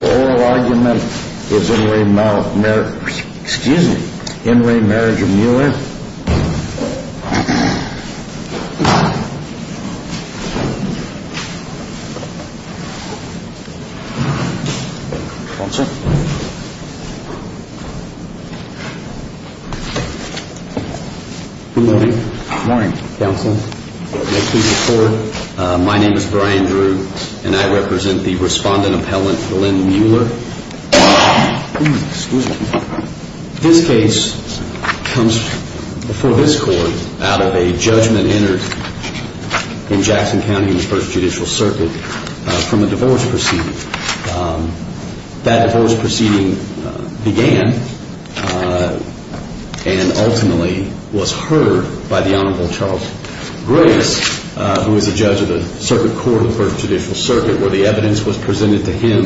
Oral argument is in re marriage of Mueller, excuse me, in re marriage of Mueller. Sponsor. Good morning. Morning. Counsel. May I please record. My name is Brian Drew and I represent the respondent appellant for Lynn Mueller. Excuse me. This case comes before this court out of a judgment entered in Jackson County in the first judicial circuit from a divorce proceeding. That divorce proceeding began and ultimately was heard by the Honorable Charles Grace who is a judge of the circuit court of the first judicial circuit where the evidence was presented to him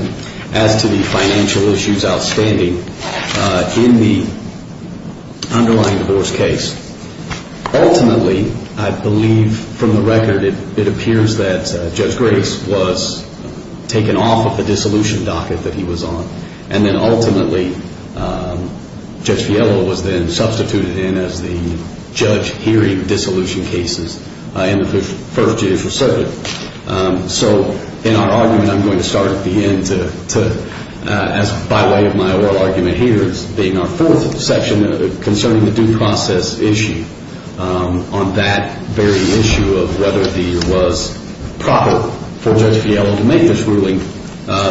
as to the financial issues outstanding in the underlying divorce case. Ultimately, I believe from the record it appears that Judge Grace was taken off of the dissolution docket that he was on and then ultimately Judge Fiello was then substituted in as the judge hearing dissolution cases in the first judicial circuit. So in our argument, I'm going to start at the end to as by way of my oral argument here is being our fourth section concerning the due process issue on that very issue of whether it was proper for Judge Fiello to make this ruling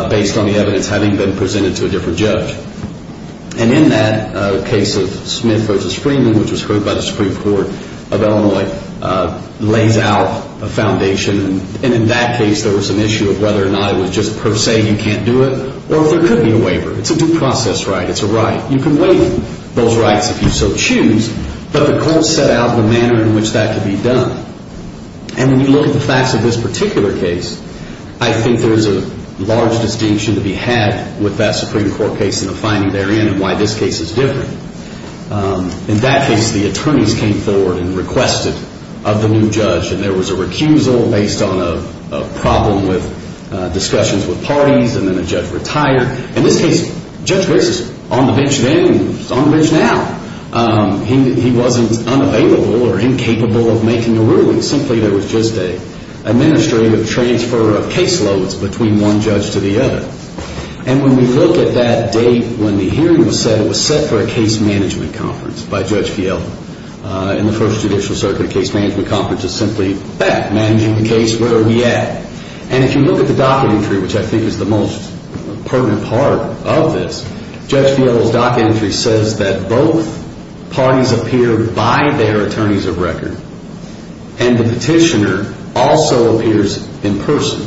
based on the evidence having been presented to a different judge. And in that case of Smith v. Freeman which was heard by the Supreme Court of Illinois lays out a foundation and in that case there was an issue of whether or not it was just per se you can't do it or if there could be a waiver. It's a due process right. It's a right. You can waive those rights if you so choose, but the court set out the manner in which that could be done. And when you look at the facts of this particular case, I think there's a large distinction to be had with that Supreme Court case and the finding therein and why this case is different. In that case, the attorneys came forward and requested of the new judge and there was a recusal based on a problem with discussions with parties and then the judge retired. In this case, Judge Grace is on the bench then and he's on the bench now. He wasn't unavailable or incapable of making a ruling. Simply there was just an administrative transfer of case loads between one judge to the other. And when we look at that date when the hearing was set, it was set for a case management conference by Judge Fiello. In the first judicial circuit, a case management conference is simply that, managing the case where we're at. And if you look at the docket entry, which I think is the most pertinent part of this, Judge Fiello's docket entry says that both parties appear by their attorneys of record. And the petitioner also appears in person,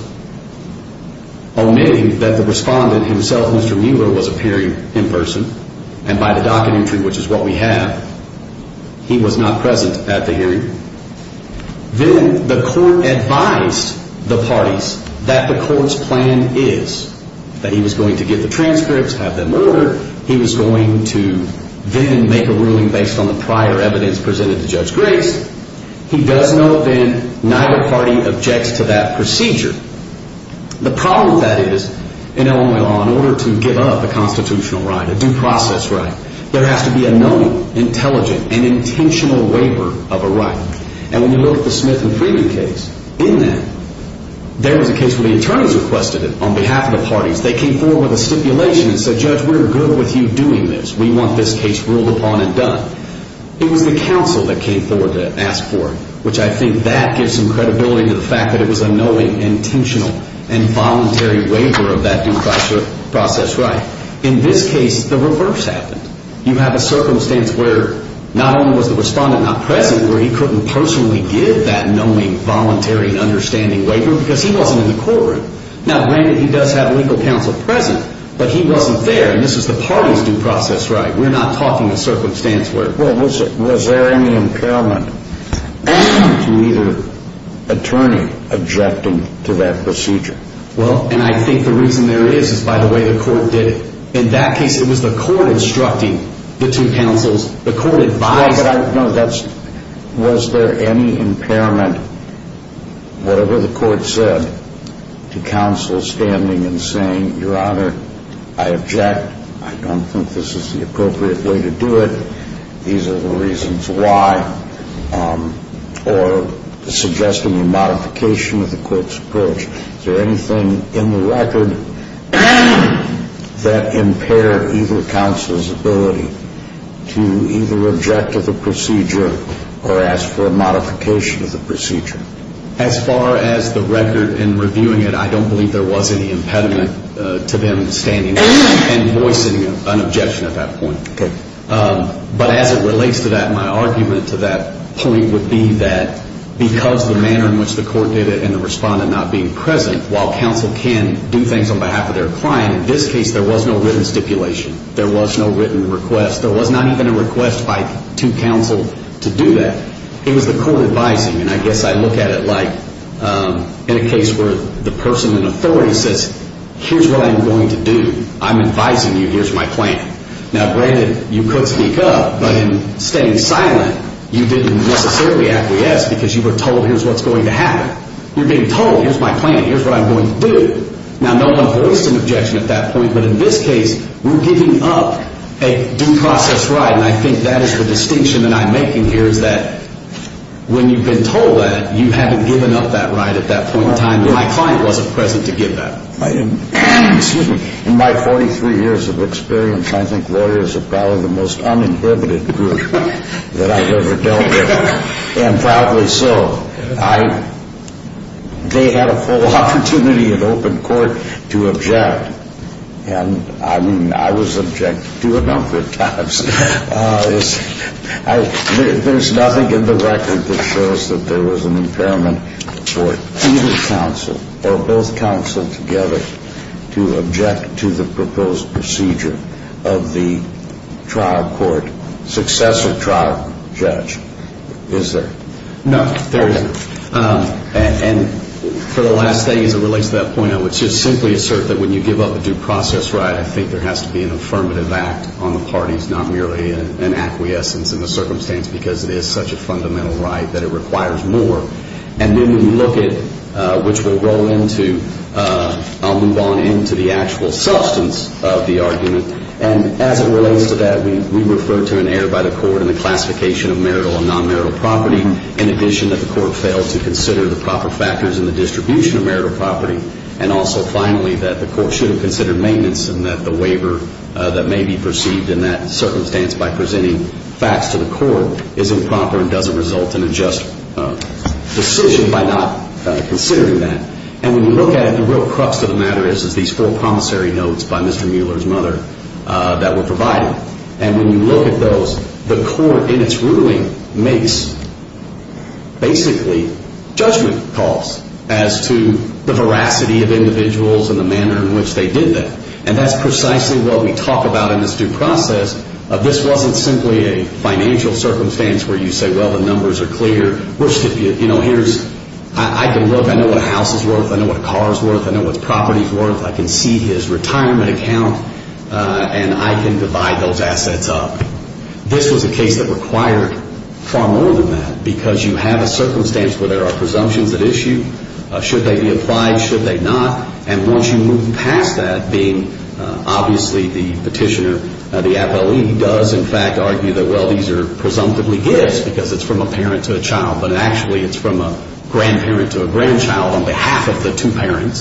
omitting that the respondent himself, Mr. Mueller, was appearing in person. And by the docket entry, which is what we have, he was not present at the hearing. Then the court advised the parties that the court's plan is that he was going to get the transcripts, have them ordered. He was going to then make a ruling based on the prior evidence presented to Judge Grace. He does know then neither party objects to that procedure. The problem with that is, in Illinois law, in order to give up a constitutional right, a due process right, there has to be a knowing, intelligent, and intentional waiver of a right. And when you look at the Smith and Freeman case, in that, there was a case where the attorneys requested it on behalf of the parties. They came forward with a stipulation and said, Judge, we're good with you doing this. We want this case ruled upon and done. It was the counsel that came forward to ask for it, which I think that gives some credibility to the fact that it was a knowing, intentional, and voluntary waiver of that due process right. In this case, the reverse happened. You have a circumstance where not only was the respondent not present, where he couldn't personally give that knowing, voluntary, and understanding waiver because he wasn't in the courtroom. Now, granted, he does have legal counsel present, but he wasn't there, and this is the party's due process right. We're not talking a circumstance where… Well, was there any impairment to either attorney objecting to that procedure? Well, and I think the reason there is is by the way the court did it. In that case, it was the court instructing the two counsels. The court advised… No, that's… Was there any impairment, whatever the court said, to counsel standing and saying, Your Honor, I object. I don't think this is the appropriate way to do it. These are the reasons why, or suggesting a modification of the court's approach. Is there anything in the record that impaired either counsel's ability to either object to the procedure or ask for a modification of the procedure? As far as the record and reviewing it, I don't believe there was any impediment to them standing and voicing an objection at that point. Okay. But as it relates to that, my argument to that point would be that because the manner in which the court did it and the respondent not being present, while counsel can do things on behalf of their client, in this case there was no written stipulation. There was no written request. There was not even a request by two counsel to do that. It was the court advising, and I guess I look at it like in a case where the person in authority says, Here's what I'm going to do. I'm advising you. Here's my plan. Now, granted, you could speak up, but in staying silent, you didn't necessarily acquiesce because you were told, Here's what's going to happen. You're being told, Here's my plan. Here's what I'm going to do. Now, no one voiced an objection at that point, but in this case, we're giving up a due process right, and I think that is the distinction that I'm making here is that when you've been told that, you haven't given up that right at that point in time. My client wasn't present to give that. In my 43 years of experience, I think lawyers are probably the most uninhibited group that I've ever dealt with, and proudly so. They had a full opportunity in open court to object, and I mean, I was objected to a number of times. There's nothing in the record that shows that there was an impairment for either counsel or both counsel together to object to the proposed procedure of the trial court successor trial judge, is there? No, there isn't. And for the last thing as it relates to that point, I would just simply assert that when you give up a due process right, I think there has to be an affirmative act on the parties, not merely an acquiescence in the circumstance because it is such a fundamental right that it requires more. And then when you look at which we'll roll into, I'll move on into the actual substance of the argument, and as it relates to that, we refer to an error by the court in the classification of marital and non-marital property, in addition that the court failed to consider the proper factors in the distribution of marital property, and also finally that the court should have considered maintenance and that the waiver that may be perceived in that circumstance by presenting facts to the court is improper and doesn't result in a just decision by not considering that. And when you look at it, the real crux of the matter is these four promissory notes by Mr. Mueller's mother that were provided. And when you look at those, the court in its ruling makes basically judgment calls as to the veracity of individuals and the manner in which they did that, and that's precisely what we talk about in this due process. This wasn't simply a financial circumstance where you say, well, the numbers are clear. I can look. I know what a house is worth. I know what a car is worth. I know what property is worth. I can see his retirement account, and I can divide those assets up. This was a case that required far more than that because you have a circumstance where there are presumptions at issue. Should they be applied? Should they not? And once you move past that, being obviously the petitioner, the appellee does, in fact, argue that, well, these are presumptively gifts because it's from a parent to a child, but actually it's from a grandparent to a grandchild on behalf of the two parents.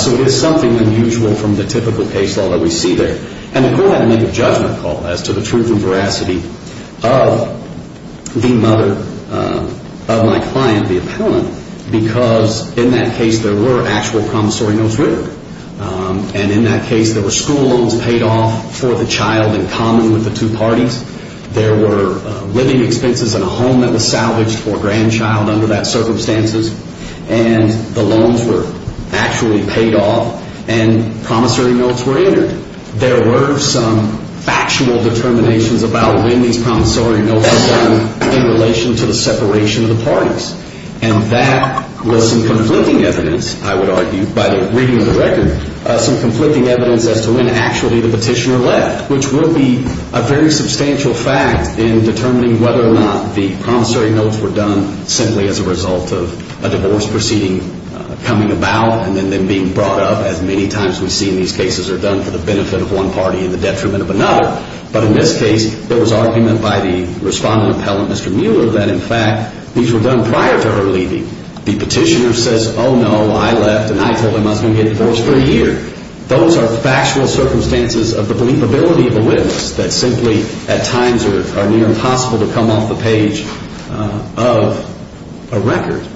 So it is something unusual from the typical case law that we see there. And the court had to make a judgment call as to the truth and veracity of the mother of my client, the appellant, because in that case there were actual promissory notes written, and in that case there were school loans paid off for the child in common with the two parties. There were living expenses in a home that was salvaged for a grandchild under that circumstances, and the loans were actually paid off and promissory notes were entered. There were some factual determinations about when these promissory notes were done in relation to the separation of the parties, and that was some conflicting evidence, I would argue, by the reading of the record, some conflicting evidence as to when actually the petitioner left, which will be a very substantial fact in determining whether or not the promissory notes were done simply as a result of a divorce proceeding coming about and then them being brought up, as many times we see in these cases are done for the benefit of one party and the detriment of another. But in this case there was argument by the respondent appellant, Mr. Mueller, that in fact these were done prior to her leaving. The petitioner says, oh, no, I left, and I told him I was going to get divorced for a year. Those are factual circumstances of the believability of a witness that simply at times are near impossible to come off the page of a record.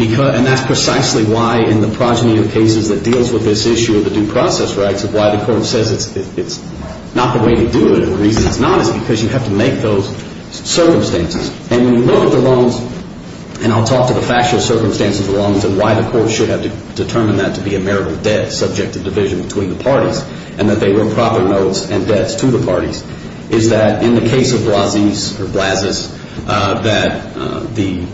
And that's precisely why in the progeny of cases that deals with this issue of the due process rights, why the court says it's not the way to do it and the reason it's not is because you have to make those circumstances. And when you look at the loans, and I'll talk to the factual circumstances of the loans and why the court should have determined that to be a marital debt subject to division between the parties and that they were proper notes and debts to the parties, is that in the case of Blasies or Blazes that the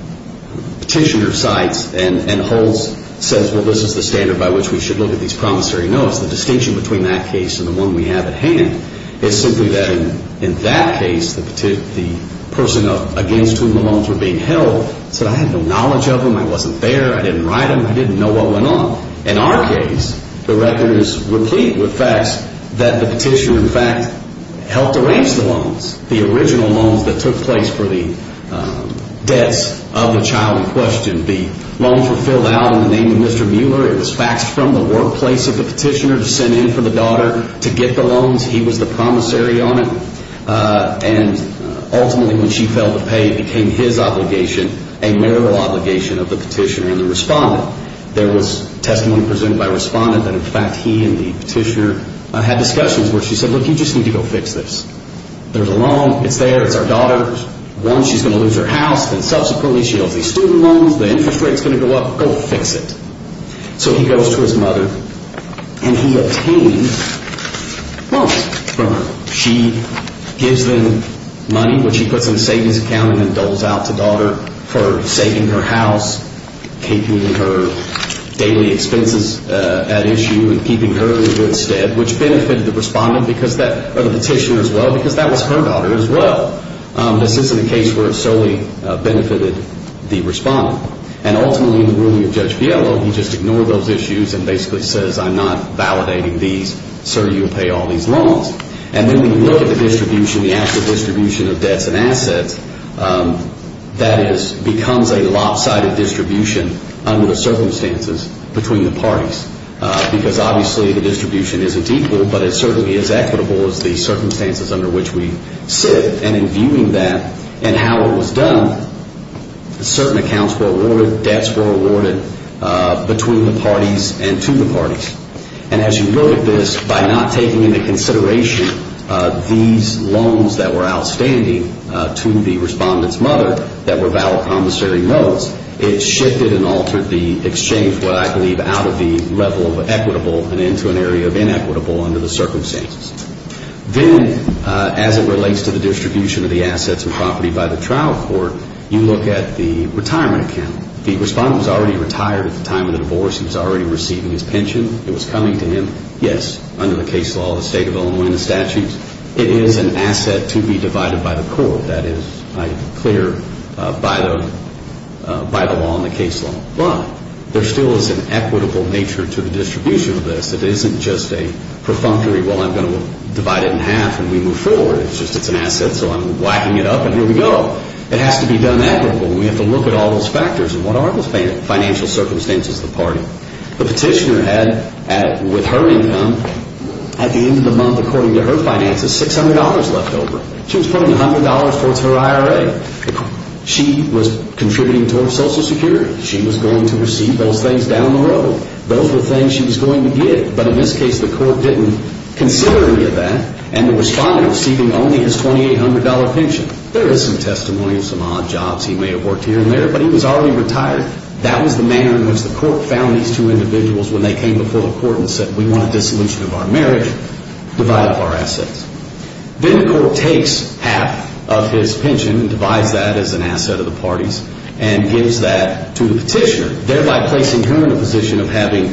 petitioner cites and holds says, well, this is the standard by which we should look at these promissory notes. The distinction between that case and the one we have at hand is simply that in that case the person against whom the loans were being held said, I had no knowledge of them, I wasn't there, I didn't write them, I didn't know what went on. In our case, the record is replete with facts that the petitioner in fact helped arrange the loans, the original loans that took place for the debts of the child in question. The loans were filled out in the name of Mr. Mueller. It was faxed from the workplace of the petitioner to send in for the daughter to get the loans. He was the promissory on it. And ultimately when she failed to pay it became his obligation, a marital obligation of the petitioner and the respondent. There was testimony presented by a respondent that in fact he and the petitioner had discussions where she said, look, you just need to go fix this. There's a loan, it's there, it's our daughter's. One, she's going to lose her house, then subsequently she owes these student loans, the interest rate is going to go up, go fix it. So he goes to his mother and he obtained loans from her. She gives them money, which he puts in a savings account and then doles out to the daughter for saving her house, keeping her daily expenses at issue and keeping her in good stead, which benefited the respondent or the petitioner as well because that was her daughter as well. This isn't a case where it solely benefited the respondent. And ultimately in the ruling of Judge Fiello he just ignored those issues and basically says I'm not validating these so you'll pay all these loans. And then when you look at the distribution, the actual distribution of debts and assets, that becomes a lopsided distribution under the circumstances between the parties because obviously the distribution isn't equal but it certainly is equitable as the circumstances under which we sit. And in viewing that and how it was done, certain accounts were awarded, debts were awarded between the parties and to the parties. And as you look at this, by not taking into consideration these loans that were outstanding to the respondent's mother that were valid commissary notes, it shifted and altered the exchange, what I believe out of the level of equitable and into an area of inequitable under the circumstances. Then as it relates to the distribution of the assets and property by the trial court, you look at the retirement account. The respondent was already retired at the time of the divorce. He was already receiving his pension. It was coming to him. Yes, under the case law, the state of Illinois and the statutes, it is an asset to be divided by the court. That is clear by the law and the case law. But there still is an equitable nature to the distribution of this. It isn't just a perfunctory, well, I'm going to divide it in half and we move forward. It's just it's an asset so I'm whacking it up and here we go. It has to be done equitably and we have to look at all those factors and what are the financial circumstances of the party. The petitioner had, with her income, at the end of the month, according to her finances, $600 left over. She was putting $100 towards her IRA. She was contributing towards Social Security. She was going to receive those things down the road. Those were things she was going to get, but in this case the court didn't consider any of that and the respondent was receiving only his $2,800 pension. There is some testimony of some odd jobs. He may have worked here and there, but he was already retired. That was the manner in which the court found these two individuals when they came before the court and said we want a dissolution of our marriage, divide up our assets. Then the court takes half of his pension and divides that as an asset of the parties and gives that to the petitioner, thereby placing her in a position of having,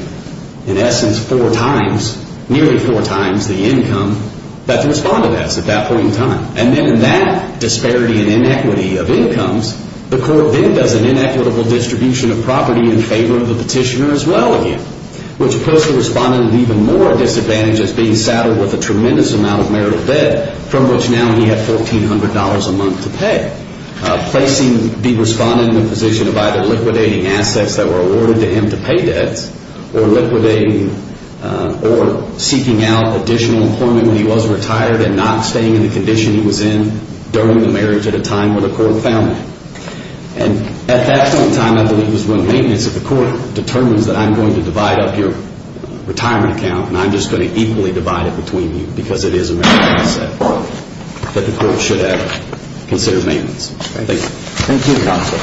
in essence, four times, nearly four times the income that the respondent has at that point in time. And then in that disparity and inequity of incomes, the court then does an inequitable distribution of property in favor of the petitioner as well again, which puts the respondent at even more disadvantage as being saddled with a tremendous amount of marital debt from which now he had $1,400 a month to pay, placing the respondent in the position of either liquidating assets that were awarded to him to pay debts or liquidating or seeking out additional employment when he was retired and not staying in the condition he was in during the marriage at a time when the court found him. And at that point in time, I believe, is when maintenance of the court determines that I'm going to divide up your retirement account and I'm just going to equally divide it between you because it is a marital asset that the court should have considered maintenance. Thank you. Thank you, Counsel.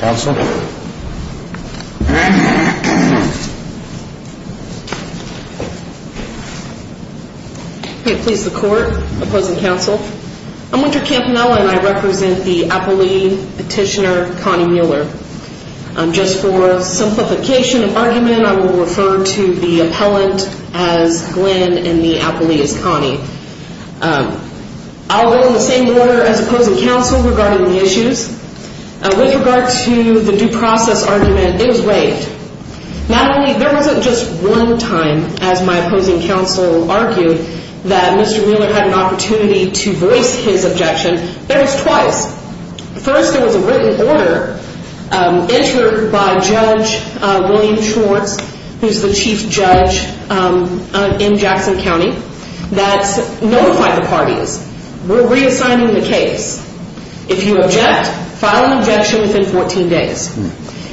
Counsel? Okay. Please, the court. Opposing counsel? I'm Winter Campanella and I represent the appellee petitioner, Connie Mueller. Just for simplification of argument, I will refer to the appellant as Glenn and the appellee as Connie. With regard to the due process argument, it was waived. Not only, there wasn't just one time, as my opposing counsel argued, that Mr. Mueller had an opportunity to voice his objection. There was twice. First, there was a written order entered by Judge William Schwartz, who's the chief judge in Jackson County, that notified the parties, we're reassigning the case. If you object, file an objection within 14 days.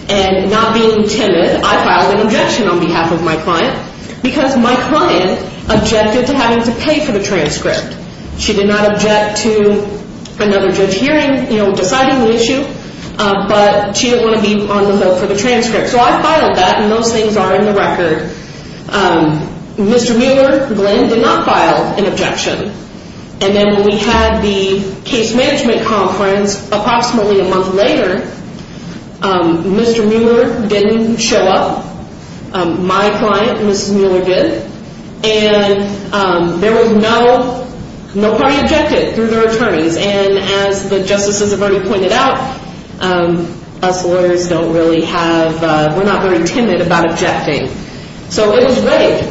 And not being timid, I filed an objection on behalf of my client because my client objected to having to pay for the transcript. She did not object to another judge hearing deciding the issue, but she didn't want to be on the hook for the transcript. So I filed that and those things are in the record. Mr. Mueller, Glenn, did not file an objection. And then we had the case management conference approximately a month later. Mr. Mueller didn't show up. My client, Mrs. Mueller, did. And there was no party objected through their attorneys. And as the justices have already pointed out, us lawyers don't really have, we're not very timid about objecting. So it was waived.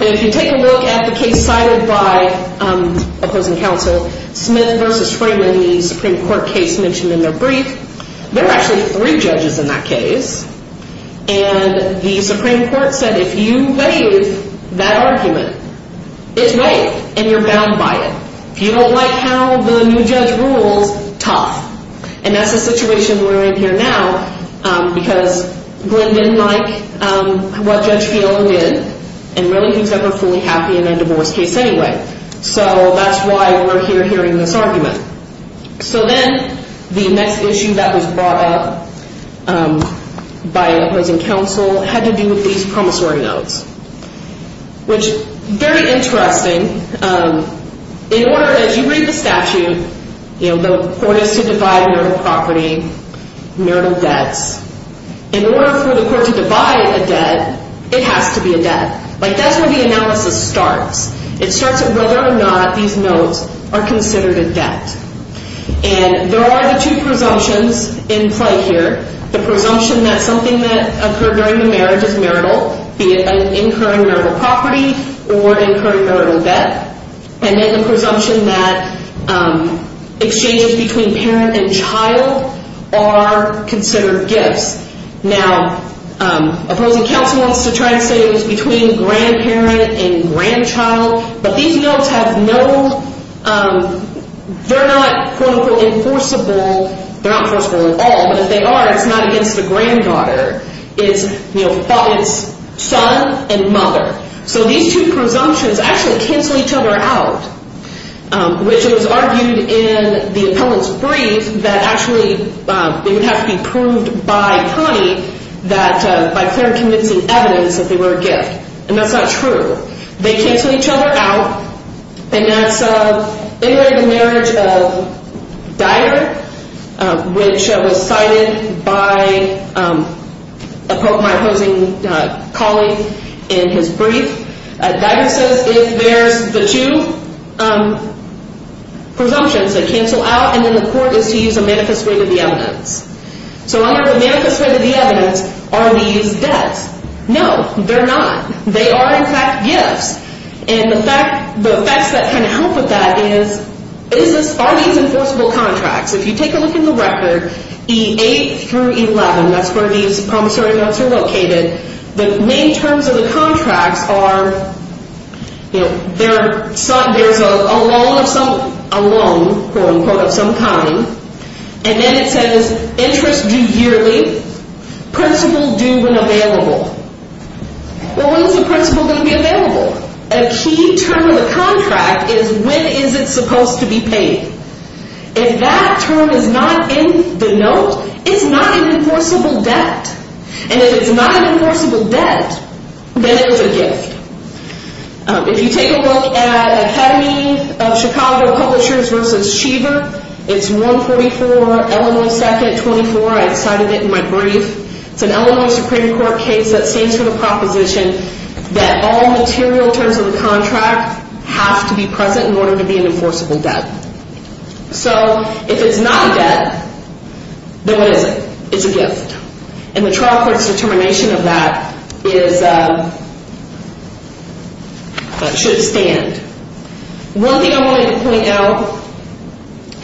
If you take a look at the case cited by opposing counsel, Smith v. Freeman, the Supreme Court case mentioned in their brief, there are actually three judges in that case. And the Supreme Court said if you waive that argument, it's waived, and you're bound by it. If you don't like how the new judge rules, tough. And that's the situation we're in here now because Glenn didn't like what Judge Field did and really he was never fully happy in a divorce case anyway. So that's why we're here hearing this argument. So then the next issue that was brought up by opposing counsel had to do with these promissory notes, which, very interesting. In order, as you read the statute, the court is to divide marital property, marital debts. In order for the court to divide a debt, it has to be a debt. That's where the analysis starts. It starts at whether or not these notes are considered a debt. And there are the two presumptions in play here. The presumption that something that occurred during the marriage is marital, be it incurring marital property or incurring marital debt. And then the presumption that exchanges between parent and child are considered gifts. Now, opposing counsel wants to try and say it was between grandparent and grandchild, but these notes have no... They're not, quote-unquote, enforceable. They're not enforceable at all, but if they are, it's not against the granddaughter. It's son and mother. So these two presumptions actually cancel each other out, which was argued in the appellant's brief that actually they would have to be proved by Connie by clear and convincing evidence that they were a gift. And that's not true. They cancel each other out, and that's in the marriage of Dyer, which was cited by my opposing colleague in his brief. Dyer says if there's the two presumptions, they cancel out, and then the court is to use a manifest way to the evidence. So under the manifest way to the evidence are these debts? No, they're not. They are, in fact, gifts. And the facts that kind of help with that is are these enforceable contracts? If you take a look at the record, E8 through 11, that's where these promissory notes are located, the main terms of the contracts are there's a loan of some kind, and then it says interest due yearly, principal due when available. Well, when's the principal going to be available? A key term of the contract is when is it supposed to be paid? If that term is not in the note, it's not an enforceable debt. And if it's not an enforceable debt, then it is a gift. If you take a look at Academy of Chicago Publishers v. Sheever, it's 144 Illinois 2nd 24. I cited it in my brief. It's an Illinois Supreme Court case that stands for the proposition that all material terms of the contract have to be present in order to be an enforceable debt. then what is it? It's a gift. And the trial court's determination of that is that it should stand. One thing I wanted to point out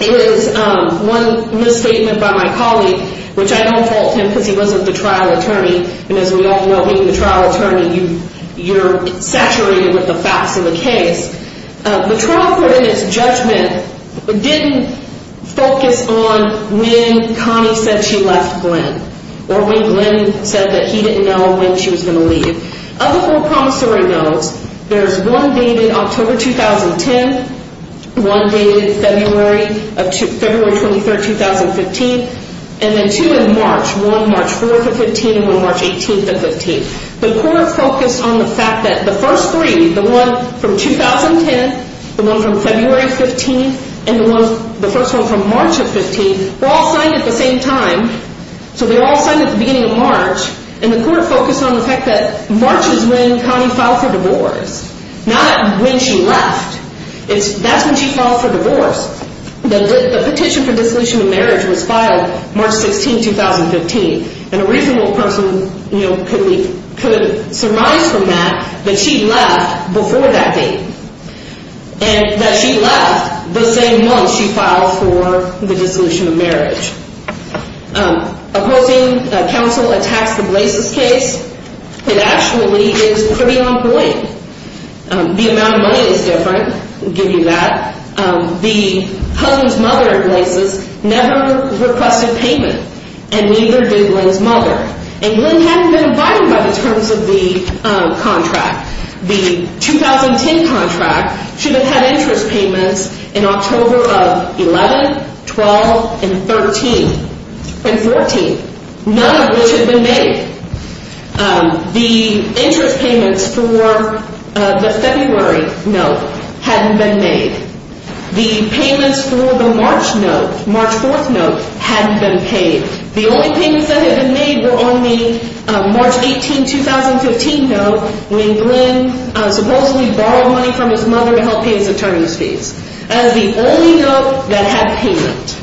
is one misstatement by my colleague, which I don't fault him because he wasn't the trial attorney, and as we all know, being the trial attorney, you're saturated with the facts of the case. The trial court in its judgment didn't focus on when Connie said she left Glenn or when Glenn said that he didn't know when she was going to leave. Of the four promissory notes, there's one dated October 2010, one dated February 23rd, 2015, and then two in March, one March 4th of 15 and one March 18th of 15. The court focused on the fact that the first three, the one from 2010, the one from February 15th, and the first one from March of 15th were all signed at the same time, so they were all signed at the beginning of March, and the court focused on the fact that March is when Connie filed for divorce, not when she left. That's when she filed for divorce. The petition for dissolution of marriage was filed March 16, 2015, and a reasonable person could surmise from that that she left before that date and that she left the same month she filed for the dissolution of marriage. Opposing counsel attacks the Blases case, it actually is pretty ongoing. The amount of money is different, I'll give you that. The husband's mother, Blases, never requested payment, and neither did Glenn's mother, and Glenn hadn't been invited by the terms of the contract. The 2010 contract should have had interest payments in October of 11, 12, and 14, none of which had been made. The interest payments for the February note hadn't been made. The payments for the March note, March 4th note, hadn't been paid. The only payments that had been made were on the March 18, 2015 note when Glenn supposedly borrowed money from his mother to help pay his attorney's fees. That was the only note that had payment.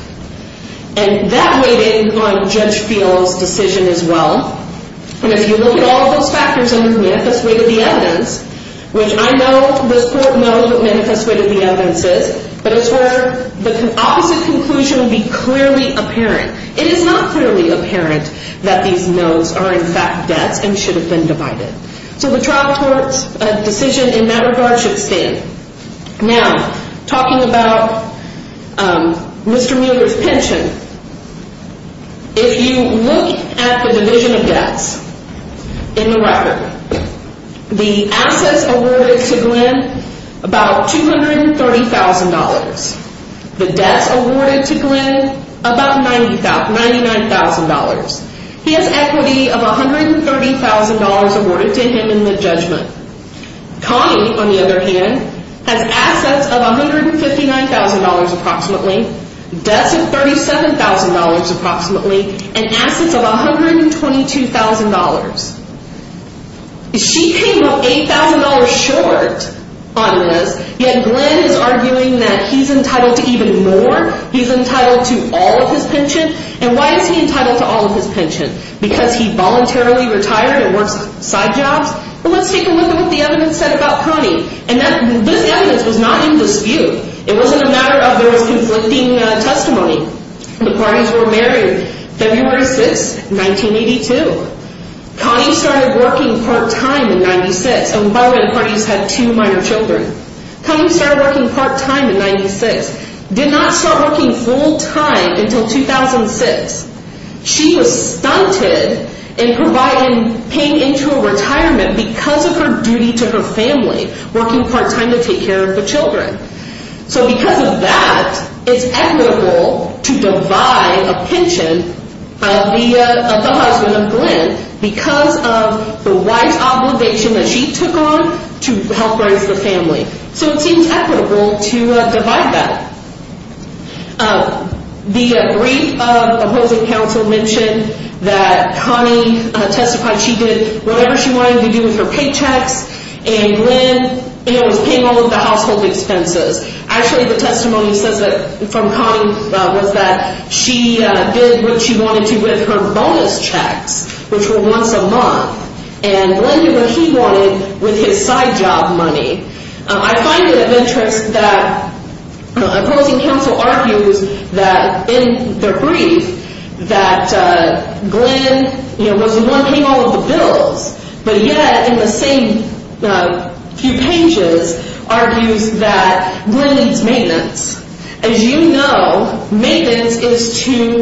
And that weighed in on Judge Field's decision as well. And if you look at all of those factors under the Manifest Weight of the Evidence, which I know this Court knows what Manifest Weight of the Evidence is, but it's where the opposite conclusion would be clearly apparent. It is not clearly apparent that these notes are in fact debts and should have been divided. So the trial court's decision in that regard should stand. Now, talking about Mr. Mueller's pension, if you look at the division of debts in the record, the assets awarded to Glenn, about $230,000. The debts awarded to Glenn, about $99,000. He has equity of $130,000 awarded to him in the judgment. Connie, on the other hand, has assets of $159,000 approximately, debts of $37,000 approximately, and assets of $122,000. She came up $8,000 short on this, yet Glenn is arguing that he's entitled to even more. He's entitled to all of his pension. And why is he entitled to all of his pension? Because he voluntarily retired and works side jobs? Well, let's take a look at what the evidence said about Connie. And this evidence was not in dispute. It wasn't a matter of there was conflicting testimony. The parties were married February 6, 1982. Connie started working part-time in 96, and one of the parties had two minor children. Connie started working part-time in 96, did not start working full-time until 2006. She was stunted in paying into a retirement because of her duty to her family, working part-time to take care of the children. So because of that, it's equitable to divide a pension of the husband of Glenn because of the wife's obligation that she took on to help raise the family. So it seems equitable to divide that. The brief of the housing council mentioned that Connie testified she did whatever she wanted to do with her paychecks, and Glenn was paying all of the household expenses. Actually, the testimony says that from Connie was that she did what she wanted to with her bonus checks, which were once a month, and Glenn did what he wanted with his side job money. I find it adventurous that a housing council argues that in their brief that Glenn was the one paying all of the bills, but yet in the same few pages argues that Glenn needs maintenance. As you know, maintenance is to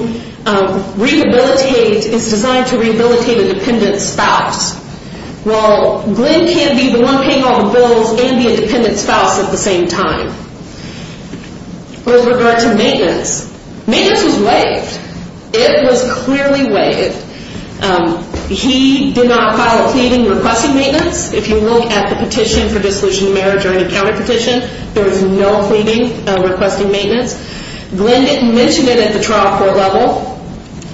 rehabilitate, it's designed to rehabilitate a dependent spouse. Well, Glenn can't be the one paying all the bills and be a dependent spouse at the same time. With regard to maintenance, maintenance was waived. It was clearly waived. He did not file a pleading requesting maintenance. If you look at the petition for dissolution of marriage or any county petition, there was no pleading requesting maintenance. Glenn didn't mention it at the trial court level,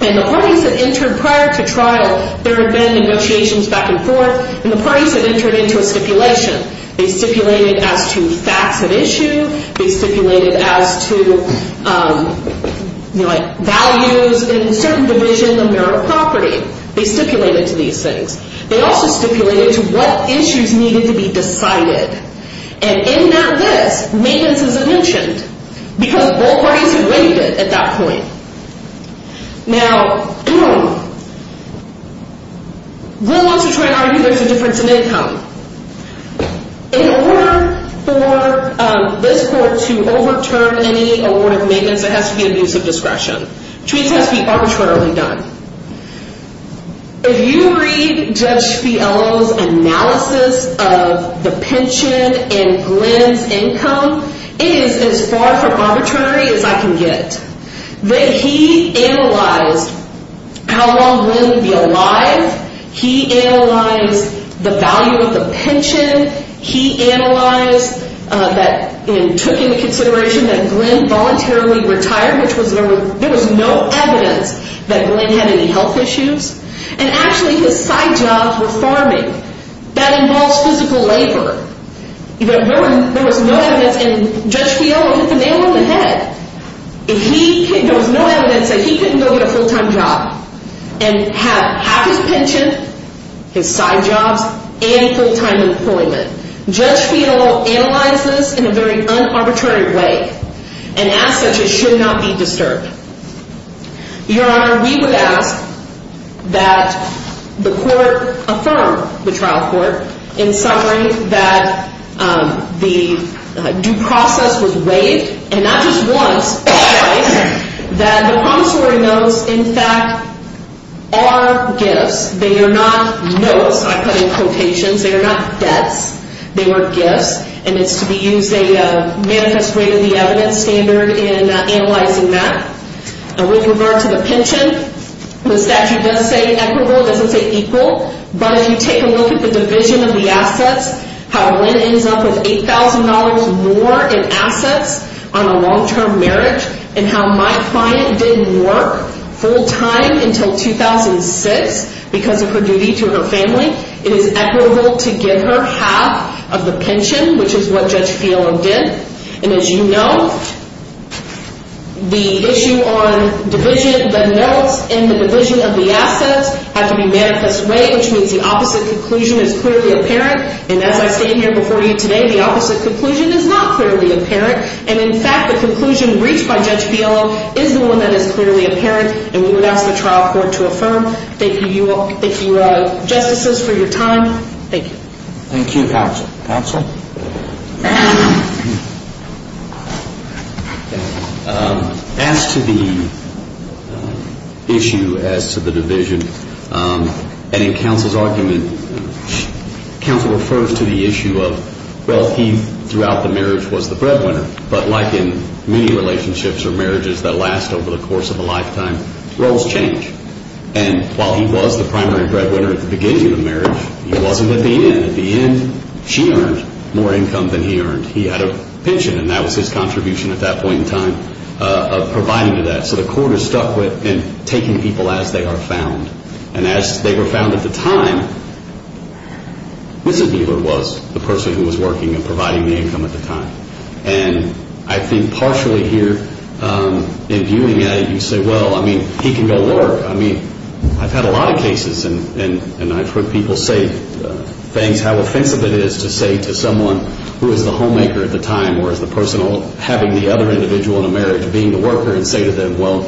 and the parties that entered prior to trial, there had been negotiations back and forth, and the parties had entered into a stipulation. They stipulated as to facts at issue. They stipulated as to values in certain division of marital property. They stipulated to these things. They also stipulated to what issues needed to be decided, and in that list, maintenance isn't mentioned because both parties had waived it at that point. Now, Glenn wants to try and argue there's a difference in income. In order for this court to overturn any award of maintenance, there has to be an abuse of discretion. Treatment has to be arbitrarily done. If you read Judge Spiello's analysis of the pension and Glenn's income, it is as far from arbitrary as I can get. He analyzed how long Glenn would be alive. He analyzed the value of the pension. He took into consideration that Glenn voluntarily retired, which there was no evidence that Glenn had any health issues, and actually his side jobs were farming. That involves physical labor. There was no evidence, and Judge Spiello hit the nail on the head. There was no evidence that he couldn't go get a full-time job and have half his pension, his side jobs, and full-time employment. Judge Spiello analyzed this in a very un-arbitrary way, and as such, it should not be disturbed. Your Honor, we would ask that the court affirm, the trial court, in summary, that the due process was waived, and not just once, but twice, that the promissory notes, in fact, are gifts. They are not notes. I put in quotations. They are not debts. They were gifts, and it's to be used as a manifest rate of the evidence standard in analyzing that. With regard to the pension, the statute does say equitable. It doesn't say equal. But if you take a look at the division of the assets, how Lynn ends up with $8,000 more in assets on a long-term marriage, and how my client didn't work full-time until 2006 because of her duty to her family, it is equitable to give her half of the pension, which is what Judge Spiello did. And as you know, the issue on the notes in the division of the assets had to be manifest way, which means the opposite conclusion is clearly apparent. And as I stand here before you today, the opposite conclusion is not clearly apparent. And, in fact, the conclusion reached by Judge Spiello is the one that is clearly apparent, and we would ask the trial court to affirm. Thank you, Justices, for your time. Thank you. Thank you, Counsel. Counsel? As to the issue as to the division, and in Counsel's argument, Counsel refers to the issue of, well, he throughout the marriage was the breadwinner, but like in many relationships or marriages that last over the course of a lifetime, roles change. And while he was the primary breadwinner at the beginning of the marriage, he wasn't at the end. And at the end, she earned more income than he earned. He had a pension, and that was his contribution at that point in time of providing to that. So the court is stuck with taking people as they are found. And as they were found at the time, Mrs. Bieler was the person who was working and providing the income at the time. And I think partially here in viewing it, you say, well, I mean, he can go to work. I mean, I've had a lot of cases, and I've heard people say things, how offensive it is to say to someone who is the homemaker at the time or is the person having the other individual in a marriage being the worker, and say to them, well,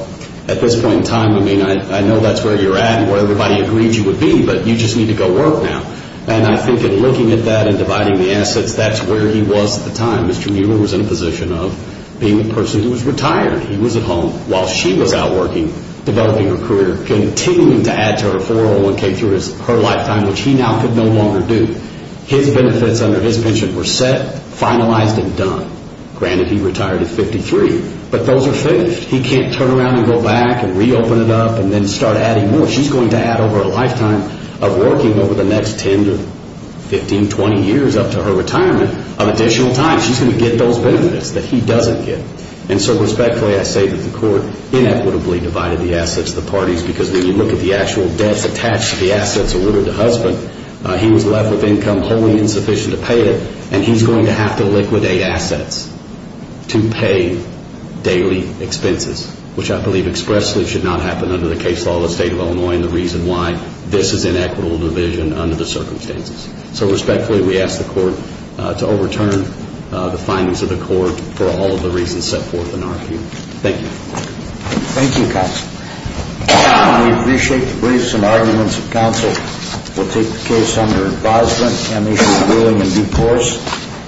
at this point in time, I mean, I know that's where you're at and where everybody agreed you would be, but you just need to go work now. And I think in looking at that and dividing the assets, that's where he was at the time. Mr. Bieler was in a position of being a person who was retired. He was at home while she was out working, developing her career, continuing to add to her 401K through her lifetime, which he now could no longer do. His benefits under his pension were set, finalized, and done. Granted, he retired at 53, but those are fixed. He can't turn around and go back and reopen it up and then start adding more. She's going to add over a lifetime of working over the next 10 to 15, 20 years up to her retirement of additional time. She's going to get those benefits that he doesn't get. And so respectfully, I say that the court inequitably divided the assets of the parties because when you look at the actual debts attached to the assets allotted to husband, he was left with income wholly insufficient to pay it, and he's going to have to liquidate assets to pay daily expenses, which I believe expressly should not happen under the case law of the State of Illinois and the reason why this is inequitable division under the circumstances. So respectfully, we ask the court to overturn the findings of the court for all of the reasons set forth in our view. Thank you. Thank you, counsel. We appreciate the briefs and arguments of counsel. We'll take the case under advisement and issue a ruling in due course.